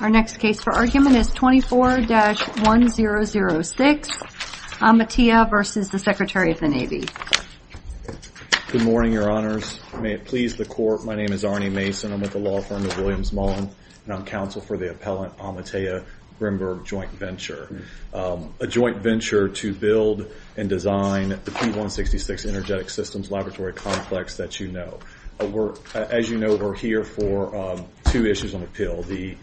Our next case for argument is 24-1006, Amatea v. Secretary of the Navy. Good morning, Your Honors. May it please the Court, my name is Arnie Mason. I'm with the law firm of Williams Mullin, and I'm counsel for the appellant Amatea Grimberg JV, a joint venture to build and design the P-166 Energetic Systems Laboratory Complex that you know. As you know, we're here for two issues on the pill, the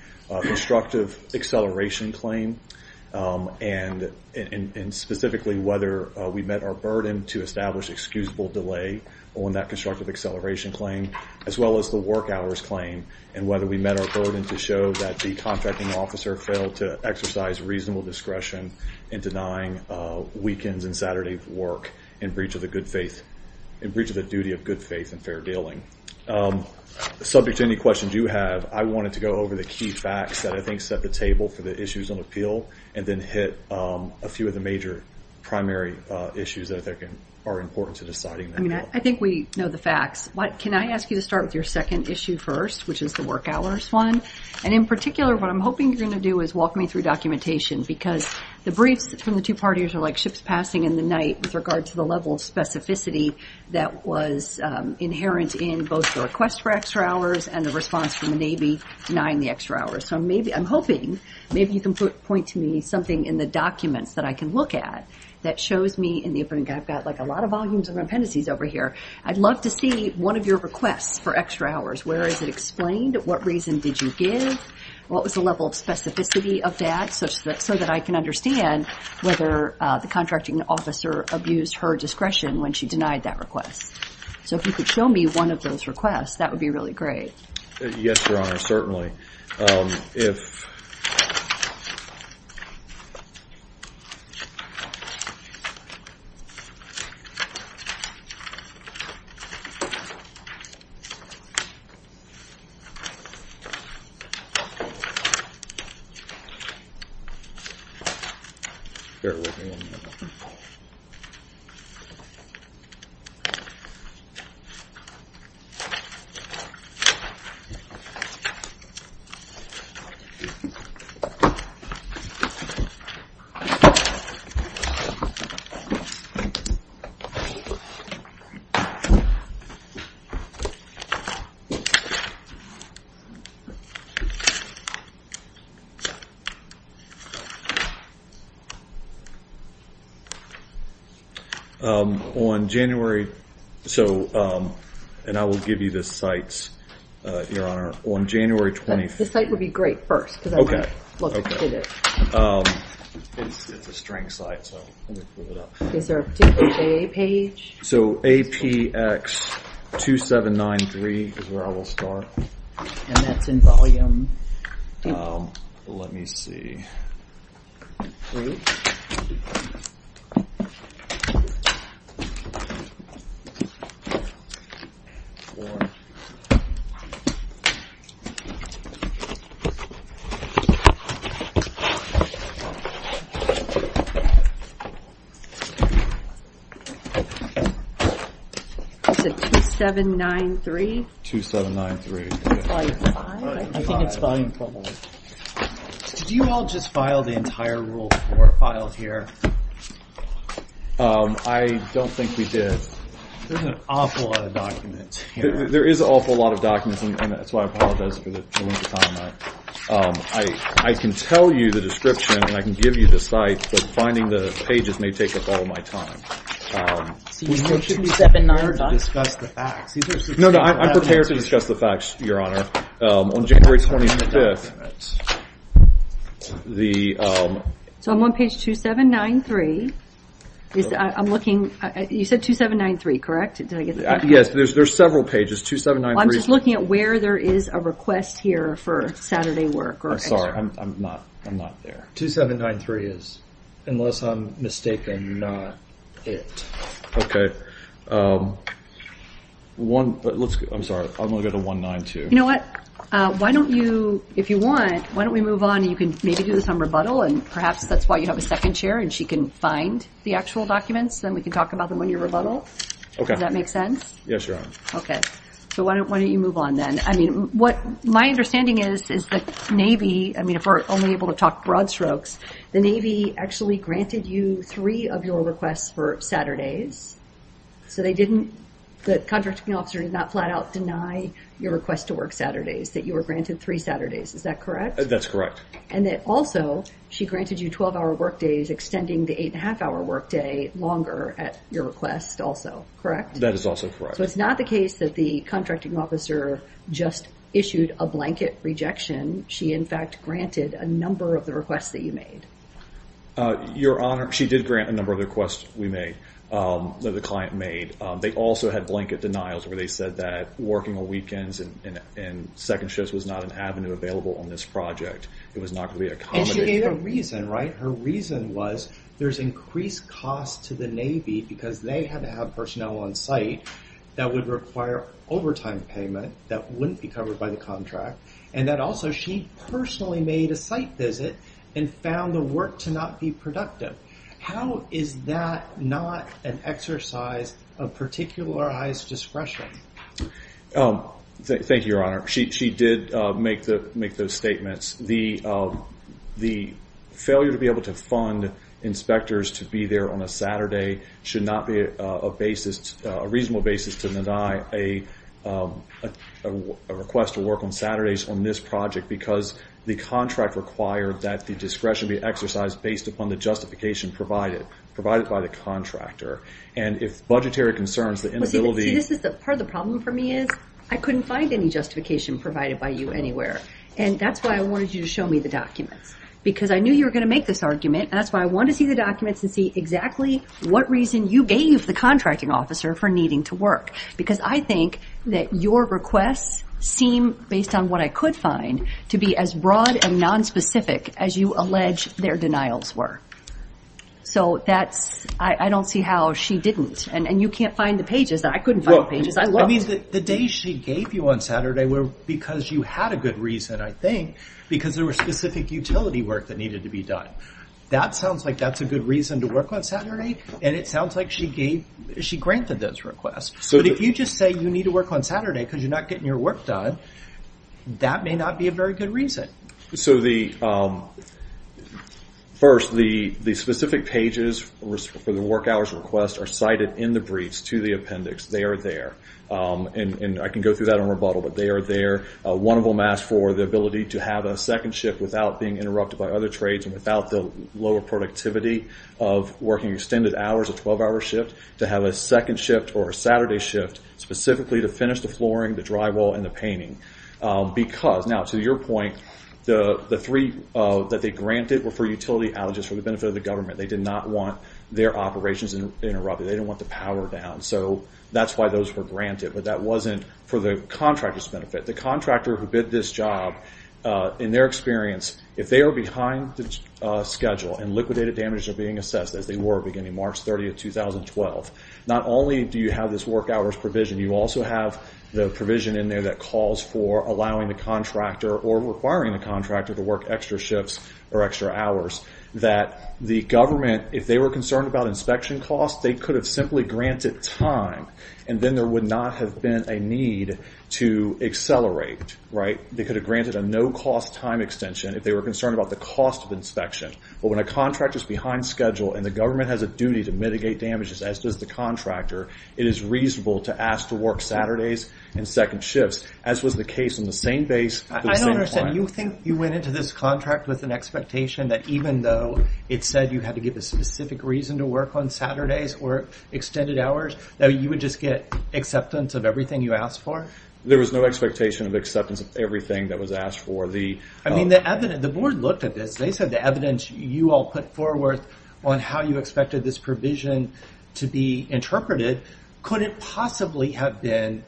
constructive acceleration claim, and specifically whether we met our burden to establish excusable delay on that constructive acceleration claim, as well as the work hours claim, and whether we met our burden to show that the contracting officer failed to exercise reasonable discretion in denying weekends and in breach of the duty of good faith and fair dealing. Subject to any questions you have, I wanted to go over the key facts that I think set the table for the issues on the pill, and then hit a few of the major primary issues that I think are important to deciding. I mean, I think we know the facts, but can I ask you to start with your second issue first, which is the work hours one? And in particular, what I'm hoping you're going to do is walk me through documentation, because the briefs from the two parties are like ships passing in the night with regard to the level of specificity that was inherent in both the request for extra hours and the response from the Navy denying the extra hours. So maybe, I'm hoping, maybe you can point to me something in the documents that I can look at that shows me, and I've got like a lot of volumes of appendices over here. I'd love to see one of your requests for extra hours. Where is it explained? What reason did you give? What was the level of specificity of that, so that I can understand whether the contracting officer abused her discretion when she denied that request? So if you could show me one of those requests, that would be really great. Yes, Your Honor, certainly. If... Okay. On January... So, and I will give you the sites, Your Honor. On January... This site would be great first, because I want to look at it. Okay. It's a string site, so let me pull it up. Is there a particular page? So APX2793 is where I will start. And that's in volume... Let me see. Is it 2793? 2793. Volume 5? I think it's volume 5. Did you all just file the entire Rule 4 file here? I don't think we did. There's an awful lot of documents here. There is an awful lot of documents, and that's why I apologize for the length of time. I can tell you the description, and I can give you the site, but finding the pages may take up all my time. So you need 2793 to discuss the facts? No, no. I'm prepared to discuss the facts, Your Honor. On January 25th, the... So I'm on page 2793. I'm looking... You said 2793, correct? Yes, there's several pages. 2793 is... I'm just looking at where there is a request here for Saturday work. I'm sorry. I'm not there. 2793 is, unless I'm mistaken, not it. I'm sorry. I'm going to go to 192. You know what? If you want, why don't we move on, and you can maybe do some rebuttal, and perhaps that's why you have a second chair, and she can find the actual documents, and we can talk about them when you rebuttal? Okay. Does that make sense? Yes, Your Honor. Okay. So why don't you move on then? My understanding is the Navy... I mean, if we're only able to talk broad strokes, the Navy actually granted you three of your requests for Saturdays. So they didn't... The contracting officer did not flat out deny your request to work Saturdays, that you were granted three Saturdays. Is that correct? That's correct. And that also, she granted you 12-hour workdays, extending the eight-and-a-half-hour workday longer at your request also, correct? That is also correct. So it's not the case that the contracting officer just issued a blanket rejection. She, in fact, granted a number of the requests that you made. Your Honor, she did grant a number of the requests we made, that the client made. They also had blanket denials where they said that working on weekends and second shifts was not an avenue available on this project. It was not going to be accommodated. And she gave a reason, right? Her reason was there's increased costs to the Navy because they had to have personnel on site that would require overtime payment that wouldn't be covered by the contract, and that also she personally made a site visit and found the work to not be productive. How is that not an exercise of particularized discretion? Thank you, Your Honor. She did make those statements. The failure to be able to fund inspectors to be there on a Saturday should not be a reasonable basis to deny a request to work on Saturdays on this project because the contract required that the discretion be exercised based upon the justification provided by the contractor. And if budgetary concerns, the inability— See, part of the problem for me is I couldn't find any justification provided by you anywhere. And that's why I wanted you to show me the documents because I knew you were going to make this argument, and that's why I wanted to see the documents and see exactly what reason you gave the contracting officer for needing to work because I think that your requests seem, based on what I could find, to be as broad and nonspecific as you allege their denials were. So that's—I don't see how she didn't. And you can't find the pages. I couldn't find the pages. I mean, the days she gave you on Saturday were because you had a good reason, I think, because there were specific utility work that needed to be done. That sounds like that's a good reason to work on Saturday, and it sounds like she granted those requests. But if you just say you need to work on Saturday because you're not getting your work done, that may not be a very good reason. First, the specific pages for the work hours request are cited in the briefs to the appendix. They are there. And I can go through that in rebuttal, but they are there. One of them asks for the ability to have a second shift without being interrupted by other trades and without the lower productivity of working extended hours, a 12-hour shift, to have a second shift or a Saturday shift specifically to finish the flooring, the drywall, and the painting. Because—now, to your point, the three that they granted were for utility outages for the benefit of the government. They did not want their operations interrupted. They didn't want the power down. So that's why those were granted. But that wasn't for the contractor's benefit. The contractor who bid this job, in their experience, if they are behind the schedule and liquidated damages are being assessed, as they were beginning March 30, 2012, not only do you have this work hours provision, you also have the provision in there that calls for allowing the contractor or requiring the contractor to work extra shifts or extra hours that the government, if they were concerned about inspection costs, they could have simply granted time and then there would not have been a need to accelerate. They could have granted a no-cost time extension if they were concerned about the cost of inspection. But when a contractor is behind schedule and the government has a duty to mitigate damages, as does the contractor, it is reasonable to ask to work Saturdays and second shifts, as was the case in the same base for the same client. And you think you went into this contract with an expectation that even though it said you had to give a specific reason to work on Saturdays or extended hours, that you would just get acceptance of everything you asked for? There was no expectation of acceptance of everything that was asked for. I mean, the board looked at this. They said the evidence you all put forward on how you expected this provision to be interpreted couldn't possibly have been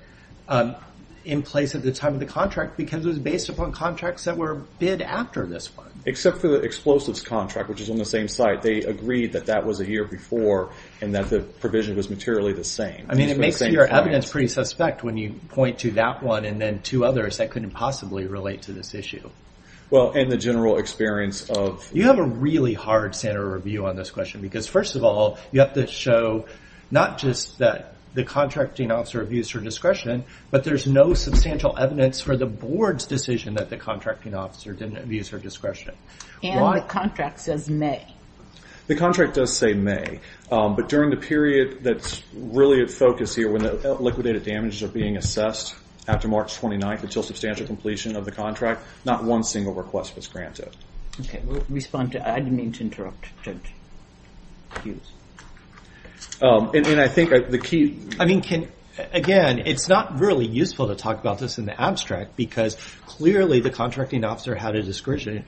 in place at the time of the contract because it was based upon contracts that were bid after this one. Except for the explosives contract, which is on the same site, they agreed that that was a year before and that the provision was materially the same. I mean, it makes your evidence pretty suspect when you point to that one and then two others that couldn't possibly relate to this issue. Well, in the general experience of... You have a really hard standard of review on this question because, first of all, you have to show not just that the contracting officer views for discretion, but there's no substantial evidence for the board's decision that the contracting officer didn't views for discretion. And the contract says May. The contract does say May, but during the period that's really at focus here when the liquidated damages are being assessed after March 29th until substantial completion of the contract, not one single request was granted. We'll respond to... I didn't mean to interrupt, Judge Hughes. And I think the key... Again, it's not really useful to talk about this in the abstract because clearly the contracting officer had a discretion.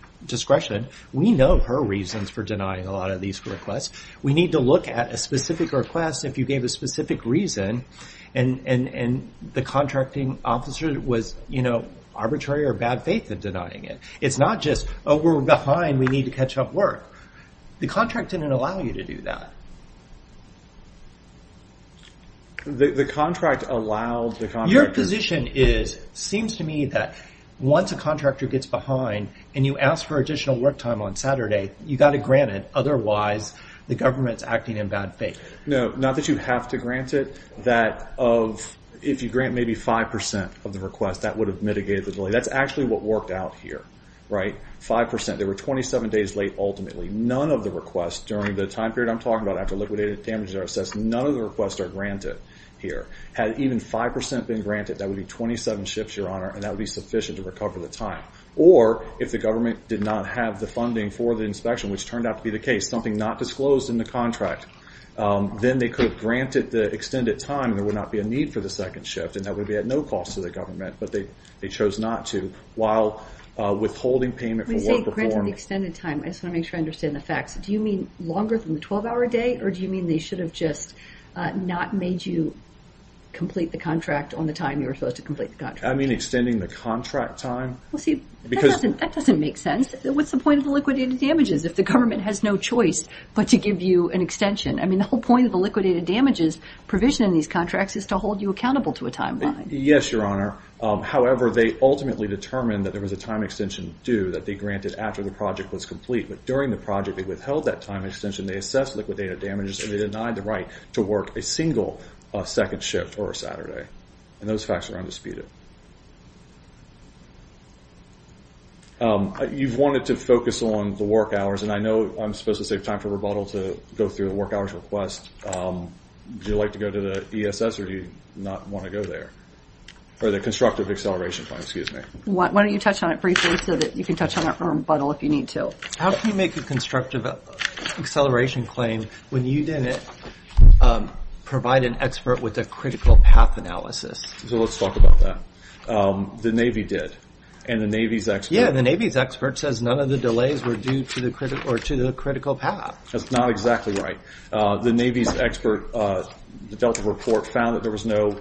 We know her reasons for denying a lot of these requests. We need to look at a specific request if you gave a specific reason and the contracting officer was, you know, arbitrary or bad faith in denying it. It's not just, oh, we're behind, we need to catch up work. The contract didn't allow you to do that. The contract allowed the contractor... Your position is, seems to me, that once a contractor gets behind and you ask for additional work time on Saturday, you've got to grant it, otherwise the government's acting in bad faith. No, not that you have to grant it. That if you grant maybe 5% of the request, that would have mitigated the delay. That's actually what worked out here, right? 5%. They were 27 days late ultimately. None of the requests during the time period I'm talking about after liquidated damages are assessed, none of the requests are granted here. Had even 5% been granted, that would be 27 shifts, Your Honor, and that would be sufficient to recover the time. Or if the government did not have the funding for the inspection, which turned out to be the case, something not disclosed in the contract, then they could have granted the extended time and there would not be a need for the second shift, and that would be at no cost to the government, but they chose not to while withholding payment for work performed. When you say granted the extended time, I just want to make sure I understand the facts. Do you mean longer than the 12-hour day, or do you mean they should have just not made you complete the contract on the time you were supposed to complete the contract? I mean extending the contract time. Well, see, that doesn't make sense. What's the point of liquidated damages if the government has no choice but to give you an extension? I mean, the whole point of the liquidated damages provision in these contracts is to hold you accountable to a timeline. Yes, Your Honor. However, they ultimately determined that there was a time extension due that they granted after the project was complete, but during the project they withheld that time extension. They assessed liquidated damages, and they denied the right to work a single second shift or a Saturday, and those facts are undisputed. You've wanted to focus on the work hours, and I know I'm supposed to save time for rebuttal to go through the work hours request. Would you like to go to the ESS, or do you not want to go there? Or the constructive acceleration plan, excuse me. Why don't you touch on it briefly so that you can touch on that rebuttal if you need to. How can you make a constructive acceleration claim when you didn't provide an expert with a critical path analysis? So let's talk about that. The Navy did, and the Navy's expert. Yeah, the Navy's expert says none of the delays were due to the critical path. That's not exactly right. The Navy's expert, the Delta report, found that there was no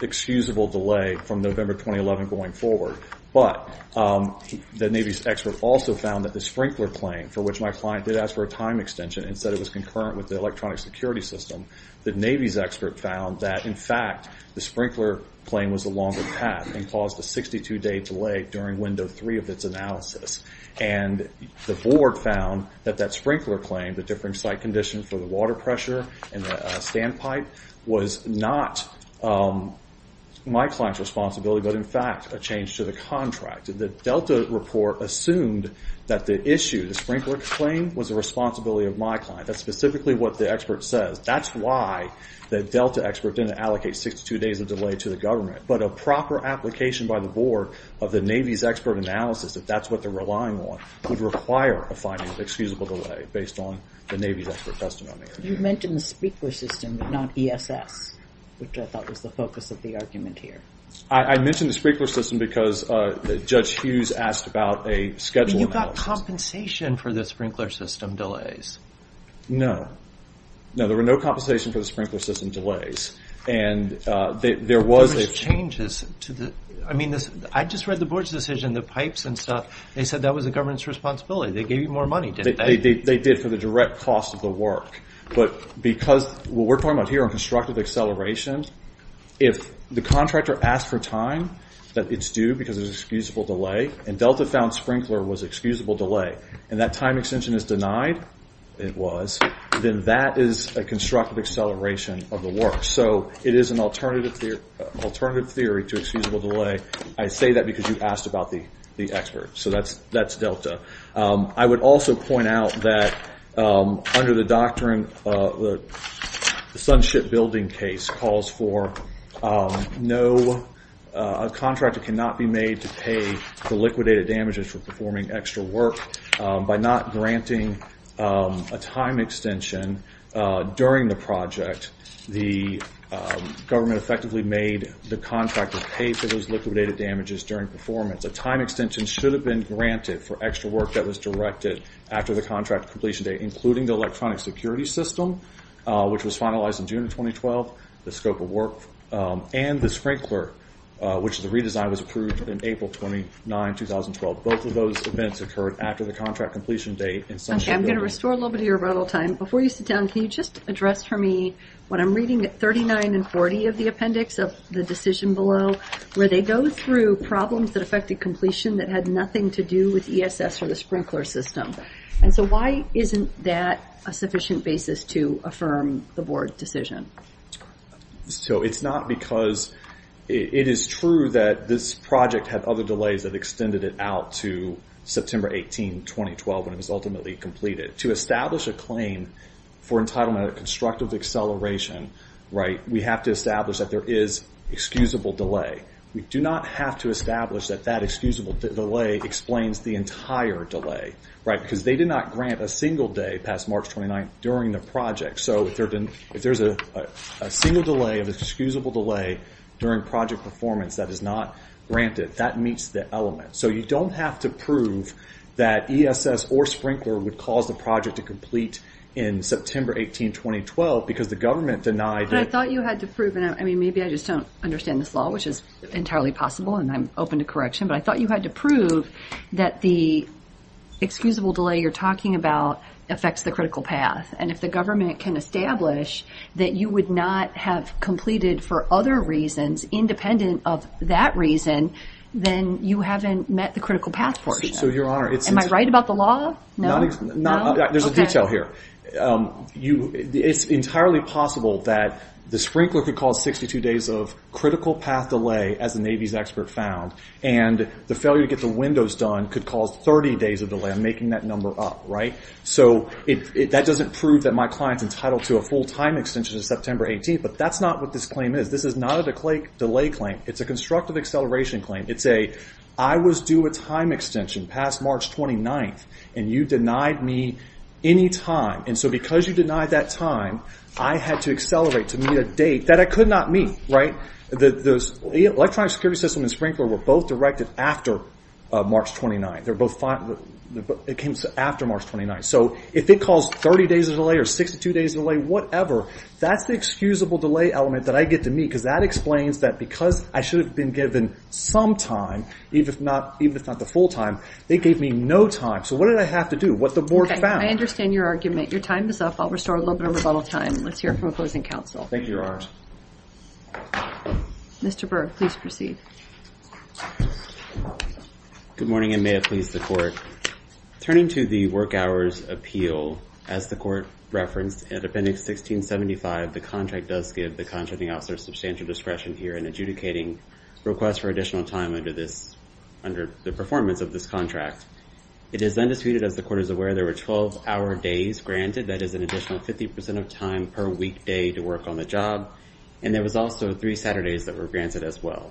excusable delay from November 2011 going forward, but the Navy's expert also found that the sprinkler plane, for which my client did ask for a time extension and said it was concurrent with the electronic security system, the Navy's expert found that, in fact, the sprinkler plane was the longer path and caused a 62-day delay during window three of its analysis. And the board found that that sprinkler plane, the different site conditions for the water pressure and the sand pipe, was not my client's responsibility, but, in fact, a change to the contract. The Delta report assumed that the issue, the sprinkler plane, was the responsibility of my client. That's specifically what the expert says. That's why the Delta expert didn't allocate 62 days of delay to the government. But a proper application by the board of the Navy's expert analysis, if that's what they're relying on, would require a finding of excusable delay based on the Navy's expert testimony. You mentioned the speaker system, not ESS, which I thought was the focus of the argument here. I mentioned the sprinkler system because Judge Hughes asked about a schedule analysis. But you got compensation for the sprinkler system delays. No. No, there were no compensation for the sprinkler system delays. And there was a... There was changes to the... I mean, I just read the board's decision, the pipes and stuff. They said that was the government's responsibility. They gave you more money, didn't they? They did for the direct cost of the work. But because what we're talking about here on constructive acceleration, if the contractor asked for time that it's due because of excusable delay, and Delta found sprinkler was excusable delay, and that time extension is denied, it was, then that is a constructive acceleration of the work. So it is an alternative theory to excusable delay. I say that because you asked about the expert. So that's Delta. I would also point out that under the doctrine, the SunShip building case calls for no... A contractor cannot be made to pay the liquidated damages for performing extra work. By not granting a time extension during the project, the government effectively made the contractor pay for those liquidated damages during performance. A time extension should have been granted for extra work that was directed after the contract completion date, including the electronic security system, which was finalized in June of 2012, the scope of work, and the sprinkler, which the redesign was approved in April 29, 2012. Both of those events occurred after the contract completion date in SunShip building. Okay, I'm going to restore a little bit of your rebuttal time. Before you sit down, can you just address for me what I'm reading at 39 and 40 of the appendix of the decision below, where they go through problems that affected completion that had nothing to do with ESS or the sprinkler system. And so why isn't that a sufficient basis to affirm the board decision? So it's not because... It is true that this project had other delays that extended it out to September 18, 2012, when it was ultimately completed. To establish a claim for entitlement of constructive acceleration, we have to establish that there is excusable delay. We do not have to establish that that excusable delay explains the entire delay. Because they did not grant a single day past March 29 during the project. So if there's a single delay of excusable delay during project performance that is not granted, that meets the element. So you don't have to prove that ESS or sprinkler would cause the project to complete in September 18, 2012, because the government denied it. But I thought you had to prove... I mean, maybe I just don't understand this law, which is entirely possible, and I'm open to correction. But I thought you had to prove that the excusable delay you're talking about affects the critical path. And if the government can establish that you would not have completed for other reasons, independent of that reason, then you haven't met the critical path portion. So, Your Honor, it's... Am I right about the law? No. There's a detail here. It's entirely possible that the sprinkler could cause 62 days of critical path delay, as the Navy's expert found. And the failure to get the windows done could cause 30 days of delay. I'm making that number up, right? So that doesn't prove that my client's entitled to a full time extension in September 18. But that's not what this claim is. This is not a delay claim. It's a constructive acceleration claim. It's a, I was due a time extension past March 29th, and you denied me any time. And so because you denied that time, I had to accelerate to meet a date that I could not meet, right? The electronic security system and sprinkler were both directed after March 29th. They were both... It came after March 29th. So if it caused 30 days of delay or 62 days of delay, whatever, that's the excusable delay element that I get to meet, because that explains that because I should have been given some time, even if not the full time, they gave me no time. So what did I have to do? What the board found. I understand your argument. Your time is up. I'll restore a little bit of rebuttal time. Let's hear from opposing counsel. Thank you, Your Honor. Mr. Berg, please proceed. Good morning, and may it please the court. Turning to the work hours appeal, as the court referenced, in Appendix 1675, the contract does give the contracting officer substantial discretion here in adjudicating requests for additional time under the performance of this contract. It is then disputed, as the court is aware, there were 12-hour days granted. That is an additional 50% of time per weekday to work on the job, and there was also three Saturdays that were granted as well.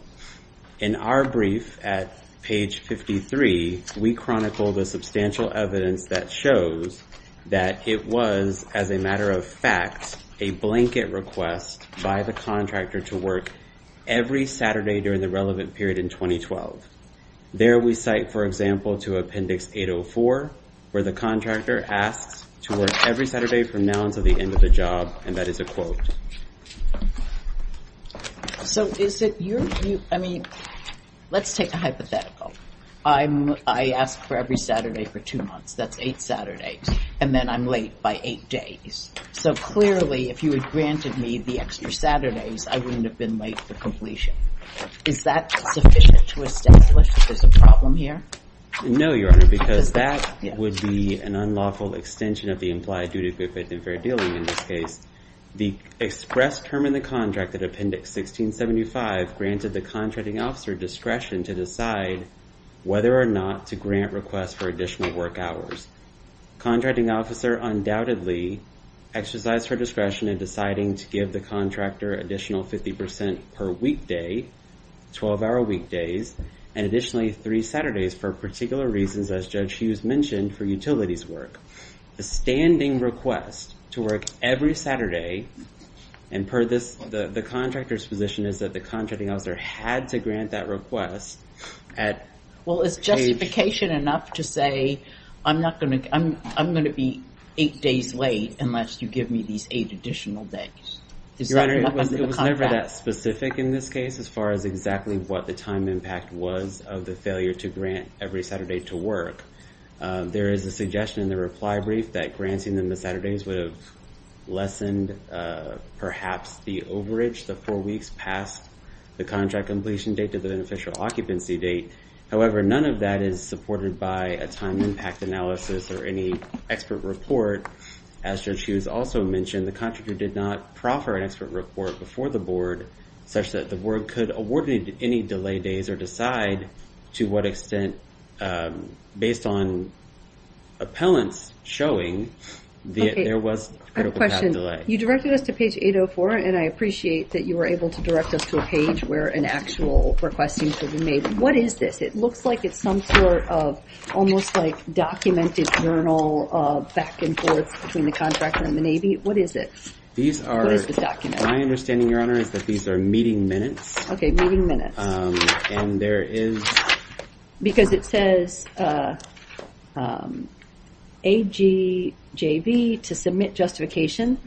In our brief at page 53, we chronicle the substantial evidence that shows that it was, as a matter of fact, a blanket request by the contractor to work every Saturday during the relevant period in 2012. There we cite, for example, to Appendix 804, where the contractor asks to work every Saturday from now until the end of the job, and that is a quote. So is it your view? I mean, let's take a hypothetical. I ask for every Saturday for two months. That's eight Saturdays. And then I'm late by eight days. So clearly, if you had granted me the extra Saturdays, I wouldn't have been late for completion. Is that sufficient to establish that there's a problem here? No, Your Honor, because that would be an unlawful extension of the implied duty of great faith and fair dealing in this case. The express term in the contract at Appendix 1675 granted the contracting officer discretion to decide whether or not to grant requests for additional work hours. The contracting officer undoubtedly exercised her discretion in deciding to give the contractor additional 50% per weekday, 12-hour weekdays, and additionally three Saturdays for particular reasons, as Judge Hughes mentioned, for utilities work. The standing request to work every Saturday, and the contractor's position is that the contracting officer had to grant that request at page- Well, is justification enough to say, I'm going to be eight days late unless you give me these eight additional days? Your Honor, it was never that specific in this case as far as exactly what the time impact was of the failure to grant every Saturday to work. There is a suggestion in the reply brief that granting them the Saturdays would have lessened perhaps the overage the four weeks past the contract completion date to the beneficial occupancy date. However, none of that is supported by a time impact analysis or any expert report. As Judge Hughes also mentioned, the contractor did not proffer an expert report before the board such that the board could award any delay days or decide to what extent, based on appellants showing, there was critical time delay. You directed us to page 804, and I appreciate that you were able to direct us to a page where an actual request seems to have been made. What is this? It looks like it's some sort of almost like documented journal of back and forth between the contractor and the Navy. What is it? These are- What is the document? My understanding, Your Honor, is that these are meeting minutes. Okay, meeting minutes. And there is- Because it says AGJV to submit justification,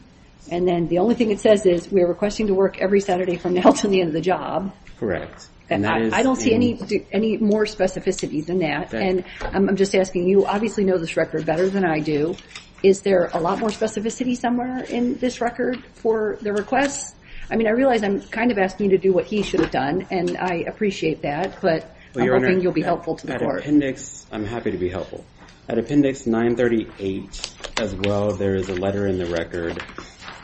and then the only thing it says is we are requesting to work every Saturday from now until the end of the job. I don't see any more specificity than that. And I'm just asking, you obviously know this record better than I do. Is there a lot more specificity somewhere in this record for the requests? I mean, I realize I'm kind of asking you to do what he should have done, and I appreciate that. But I'm hoping you'll be helpful to the court. At appendix- I'm happy to be helpful. At appendix 938, as well, there is a letter in the record,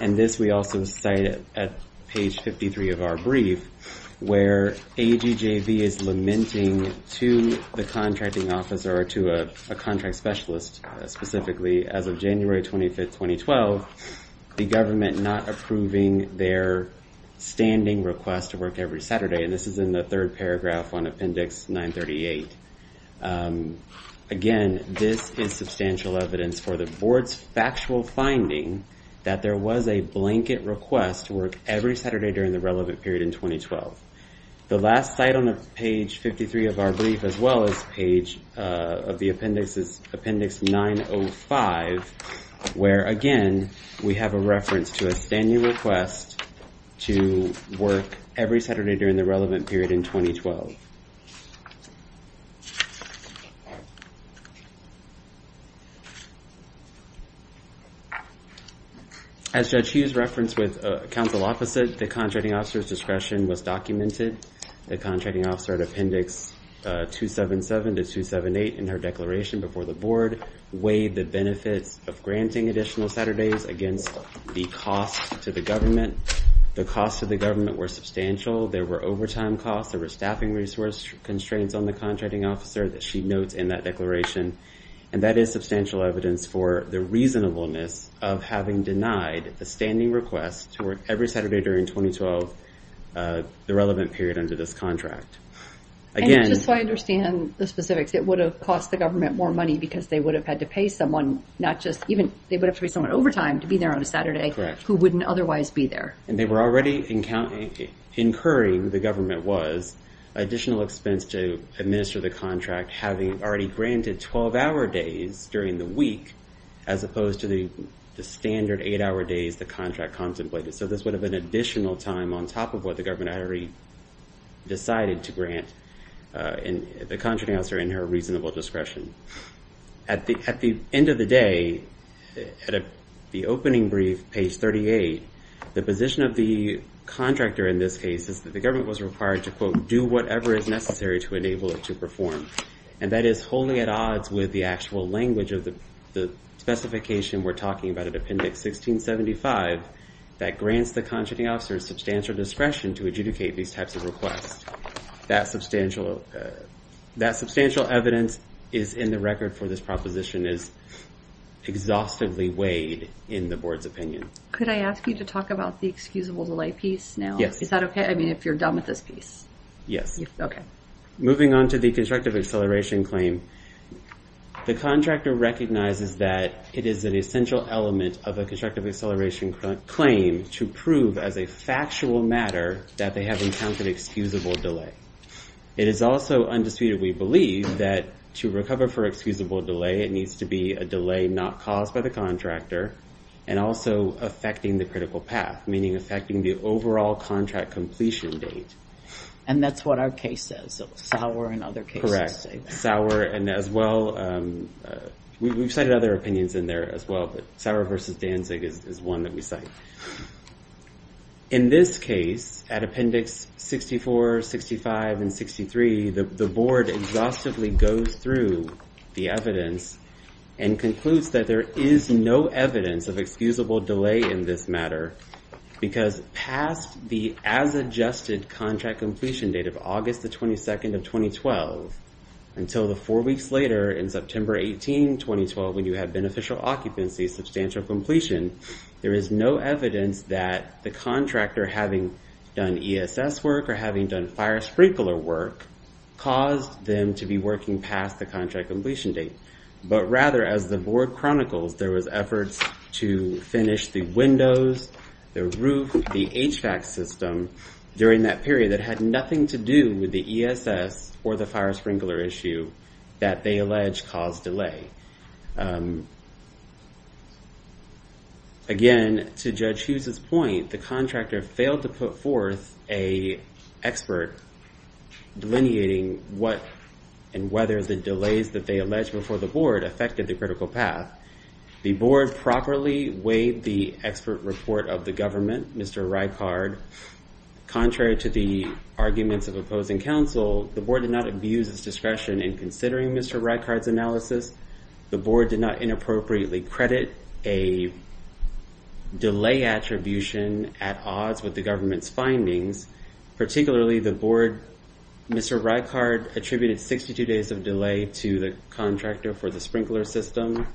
and this we also cite at page 53 of our brief, where AGJV is lamenting to the contracting officer or to a contract specialist, specifically, as of January 25, 2012, the government not approving their standing request to work every Saturday. And this is in the third paragraph on appendix 938. Again, this is substantial evidence for the board's factual finding that there was a blanket request to work every Saturday during the relevant period in 2012. The last site on page 53 of our brief, as well as page of the appendix, is appendix 905, where, again, we have a reference to a standing request to work every Saturday during the relevant period in 2012. As Judge Hughes referenced with counsel opposite, the contracting officer's discretion was documented. The contracting officer at appendix 277 to 278 in her declaration before the board weighed the benefits of granting additional Saturdays against the cost to the government. The costs to the government were substantial. There were overtime costs. There were staffing resource constraints on the contracting officer that she notes in that declaration. And that is substantial evidence for the reasonableness of having denied the standing request to work every Saturday during 2012, the relevant period under this contract. And just so I understand the specifics, it would have cost the government more money because they would have had to pay someone, not just even, they would have to pay someone overtime to be there on a Saturday who wouldn't otherwise be there. And they were already incurring, the government was, additional expense to administer the contract having already granted 12-hour days during the week, as opposed to the standard eight-hour days the contract contemplated. So this would have been additional time on top of what the government already decided to grant the contracting officer in her reasonable discretion. At the end of the day, at the opening brief, page 38, the position of the contractor in this case is that the government was required to, quote, do whatever is necessary to enable it to perform. And that is wholly at odds with the actual language of the specification we're talking about at appendix 1675 that grants the contracting officer substantial discretion to adjudicate these types of requests. That substantial evidence is in the record for this proposition is exhaustively weighed in the board's opinion. Could I ask you to talk about the excusable delay piece now? Is that okay? I mean, if you're done with this piece. Yes. Okay. Moving on to the constructive acceleration claim, the contractor recognizes that it is an essential element of a constructive acceleration claim to prove as a factual matter that they have encountered excusable delay. It is also undisputed, we believe, that to recover for excusable delay, it needs to be a delay not caused by the contractor and also affecting the critical path, meaning affecting the overall contract completion date. And that's what our case says. Sauer and other cases say that. Sauer and as well, we've cited other opinions in there as well, but Sauer versus Danzig is one that we cite. In this case, at appendix 64, 65, and 63, the board exhaustively goes through the evidence and concludes that there is no evidence of excusable delay in this matter because past the as-adjusted contract completion date of August the 22nd of 2012, until the four weeks later in September 18, 2012, when you have beneficial occupancy, substantial completion, there is no evidence that the contractor, having done ESS work or having done fire sprinkler work, caused them to be working past the contract completion date. But rather, as the board chronicles, there was efforts to finish the windows, the roof, the HVAC system during that period that had nothing to do with the ESS or the fire sprinkler issue that they allege caused delay. Again, to Judge Hughes' point, the contractor failed to put forth an expert delineating what and whether the delays that they allege before the board affected the critical path. The board properly weighed the expert report of the government, Mr. Reichard. Contrary to the arguments of opposing counsel, the board did not abuse its discretion in considering Mr. Reichard's analysis. The board did not inappropriately credit a delay attribution at odds with the government's findings. Particularly, the board, Mr. Reichard attributed 62 days of delay to the contractor for the sprinkler system.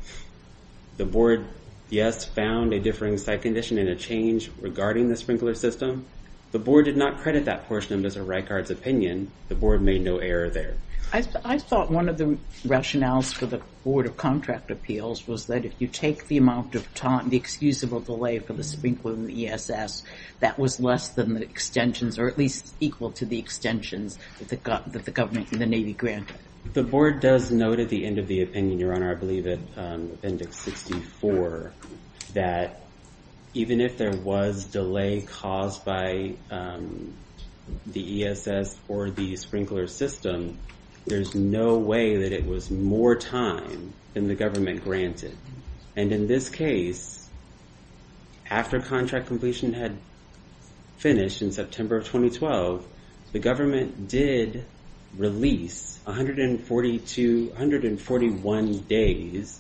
The board, yes, found a differing site condition and a change regarding the sprinkler system. The board did not credit that portion of Mr. Reichard's opinion. The board made no error there. I thought one of the rationales for the Board of Contract Appeals was that if you take the amount of time, the excusable delay for the sprinkler and the ESS, that was less than the extensions, or at least equal to the extensions that the government and the Navy granted. The board does note at the end of the opinion, Your Honor, I believe at Appendix 64, that even if there was delay caused by the ESS or the sprinkler system, there's no way that it was more time than the government granted. In this case, after contract completion had finished in September of 2012, the government did release 146 days,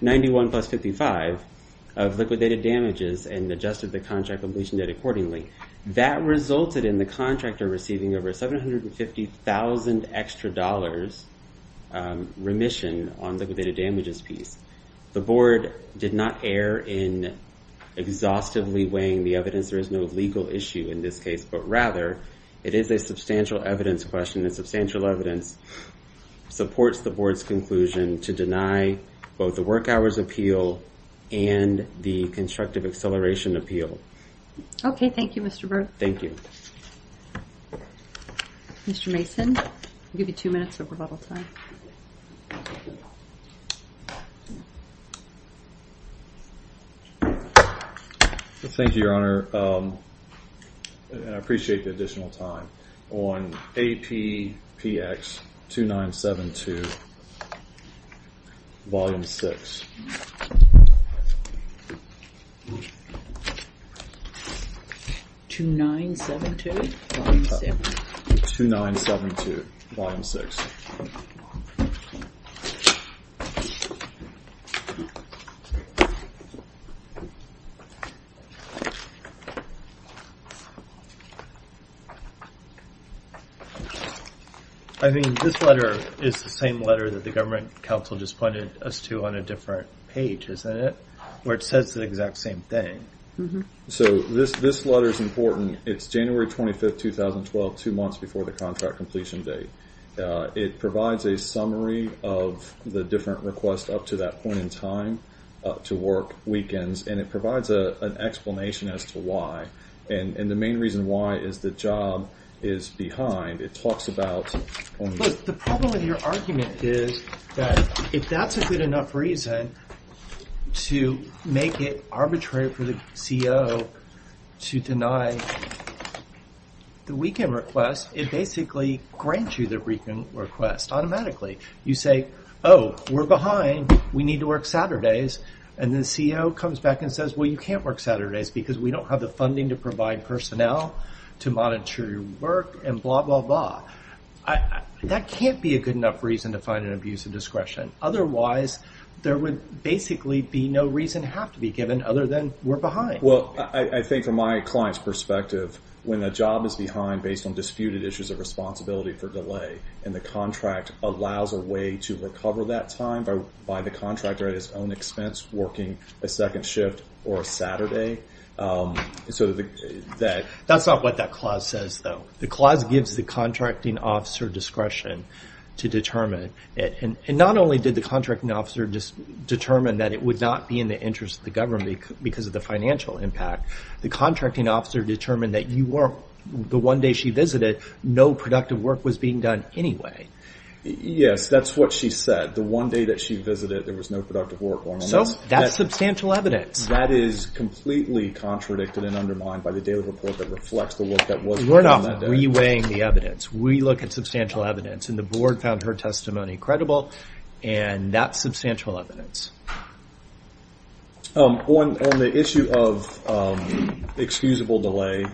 91 plus 55, of liquidated damages and adjusted the contract completion date accordingly. That resulted in the contractor receiving over $750,000 extra remission on the liquidated damages piece. The board did not err in exhaustively weighing the evidence. There is no legal issue in this case, but rather it is a substantial evidence question, and substantial evidence supports the board's conclusion to deny both the work hours appeal and the constructive acceleration appeal. Okay, thank you, Mr. Berg. Thank you. Mr. Mason, I'll give you two minutes of rebuttal time. Thank you, Your Honor, and I appreciate the additional time. On APPX 2972, Volume 6. 2972, Volume 6. 2972, Volume 6. I mean, this letter is the same letter that the government counsel just pointed us to on a different page, isn't it? Where it says the exact same thing. So this letter is important. It's January 25, 2012, two months before the contract completion date. It provides a summary of the different requests up to that point in time to work weekends, and it provides an explanation as to why. And the main reason why is the job is behind. It talks about only- Look, the problem with your argument is that if that's a good enough reason to make it arbitrary for the CO to deny the weekend request, it basically grants you the weekend request automatically. You say, oh, we're behind. We need to work Saturdays. And the CO comes back and says, well, you can't work Saturdays because we don't have the funding to provide personnel to monitor your work and blah, blah, blah. That can't be a good enough reason to find an abuse of discretion. Otherwise, there would basically be no reason to have to be given other than we're behind. Well, I think from my client's perspective, when a job is behind based on disputed issues of responsibility for delay and the contract allows a way to recover that time by the contractor at his own expense working a second shift or a Saturday. That's not what that clause says, though. The clause gives the contracting officer discretion to determine it. And not only did the contracting officer determine that it would not be in the interest of the government because of the financial impact. The contracting officer determined that the one day she visited, no productive work was being done anyway. Yes, that's what she said. The one day that she visited, there was no productive work. So that's substantial evidence. That is completely contradicted and undermined by the daily report that reflects the work that was done. We're not reweighing the evidence. We look at substantial evidence. And the board found her testimony credible. And that's substantial evidence. On the issue of excusable delay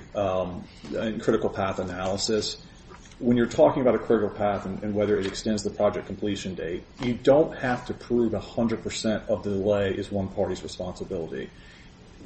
and critical path analysis, when you're talking about a critical path and whether it extends the project completion date, you don't have to prove 100% of the delay is one party's responsibility.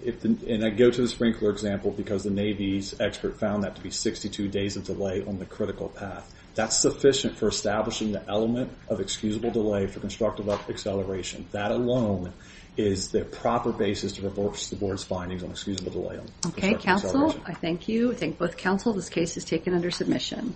And I go to the sprinkler example because the Navy's expert found that to be 62 days of delay on the critical path. That's sufficient for establishing the element of excusable delay for constructive acceleration. That alone is the proper basis to reverse the board's findings on excusable delay. Okay, counsel, I thank you. I thank both counsel. This case is taken under submission.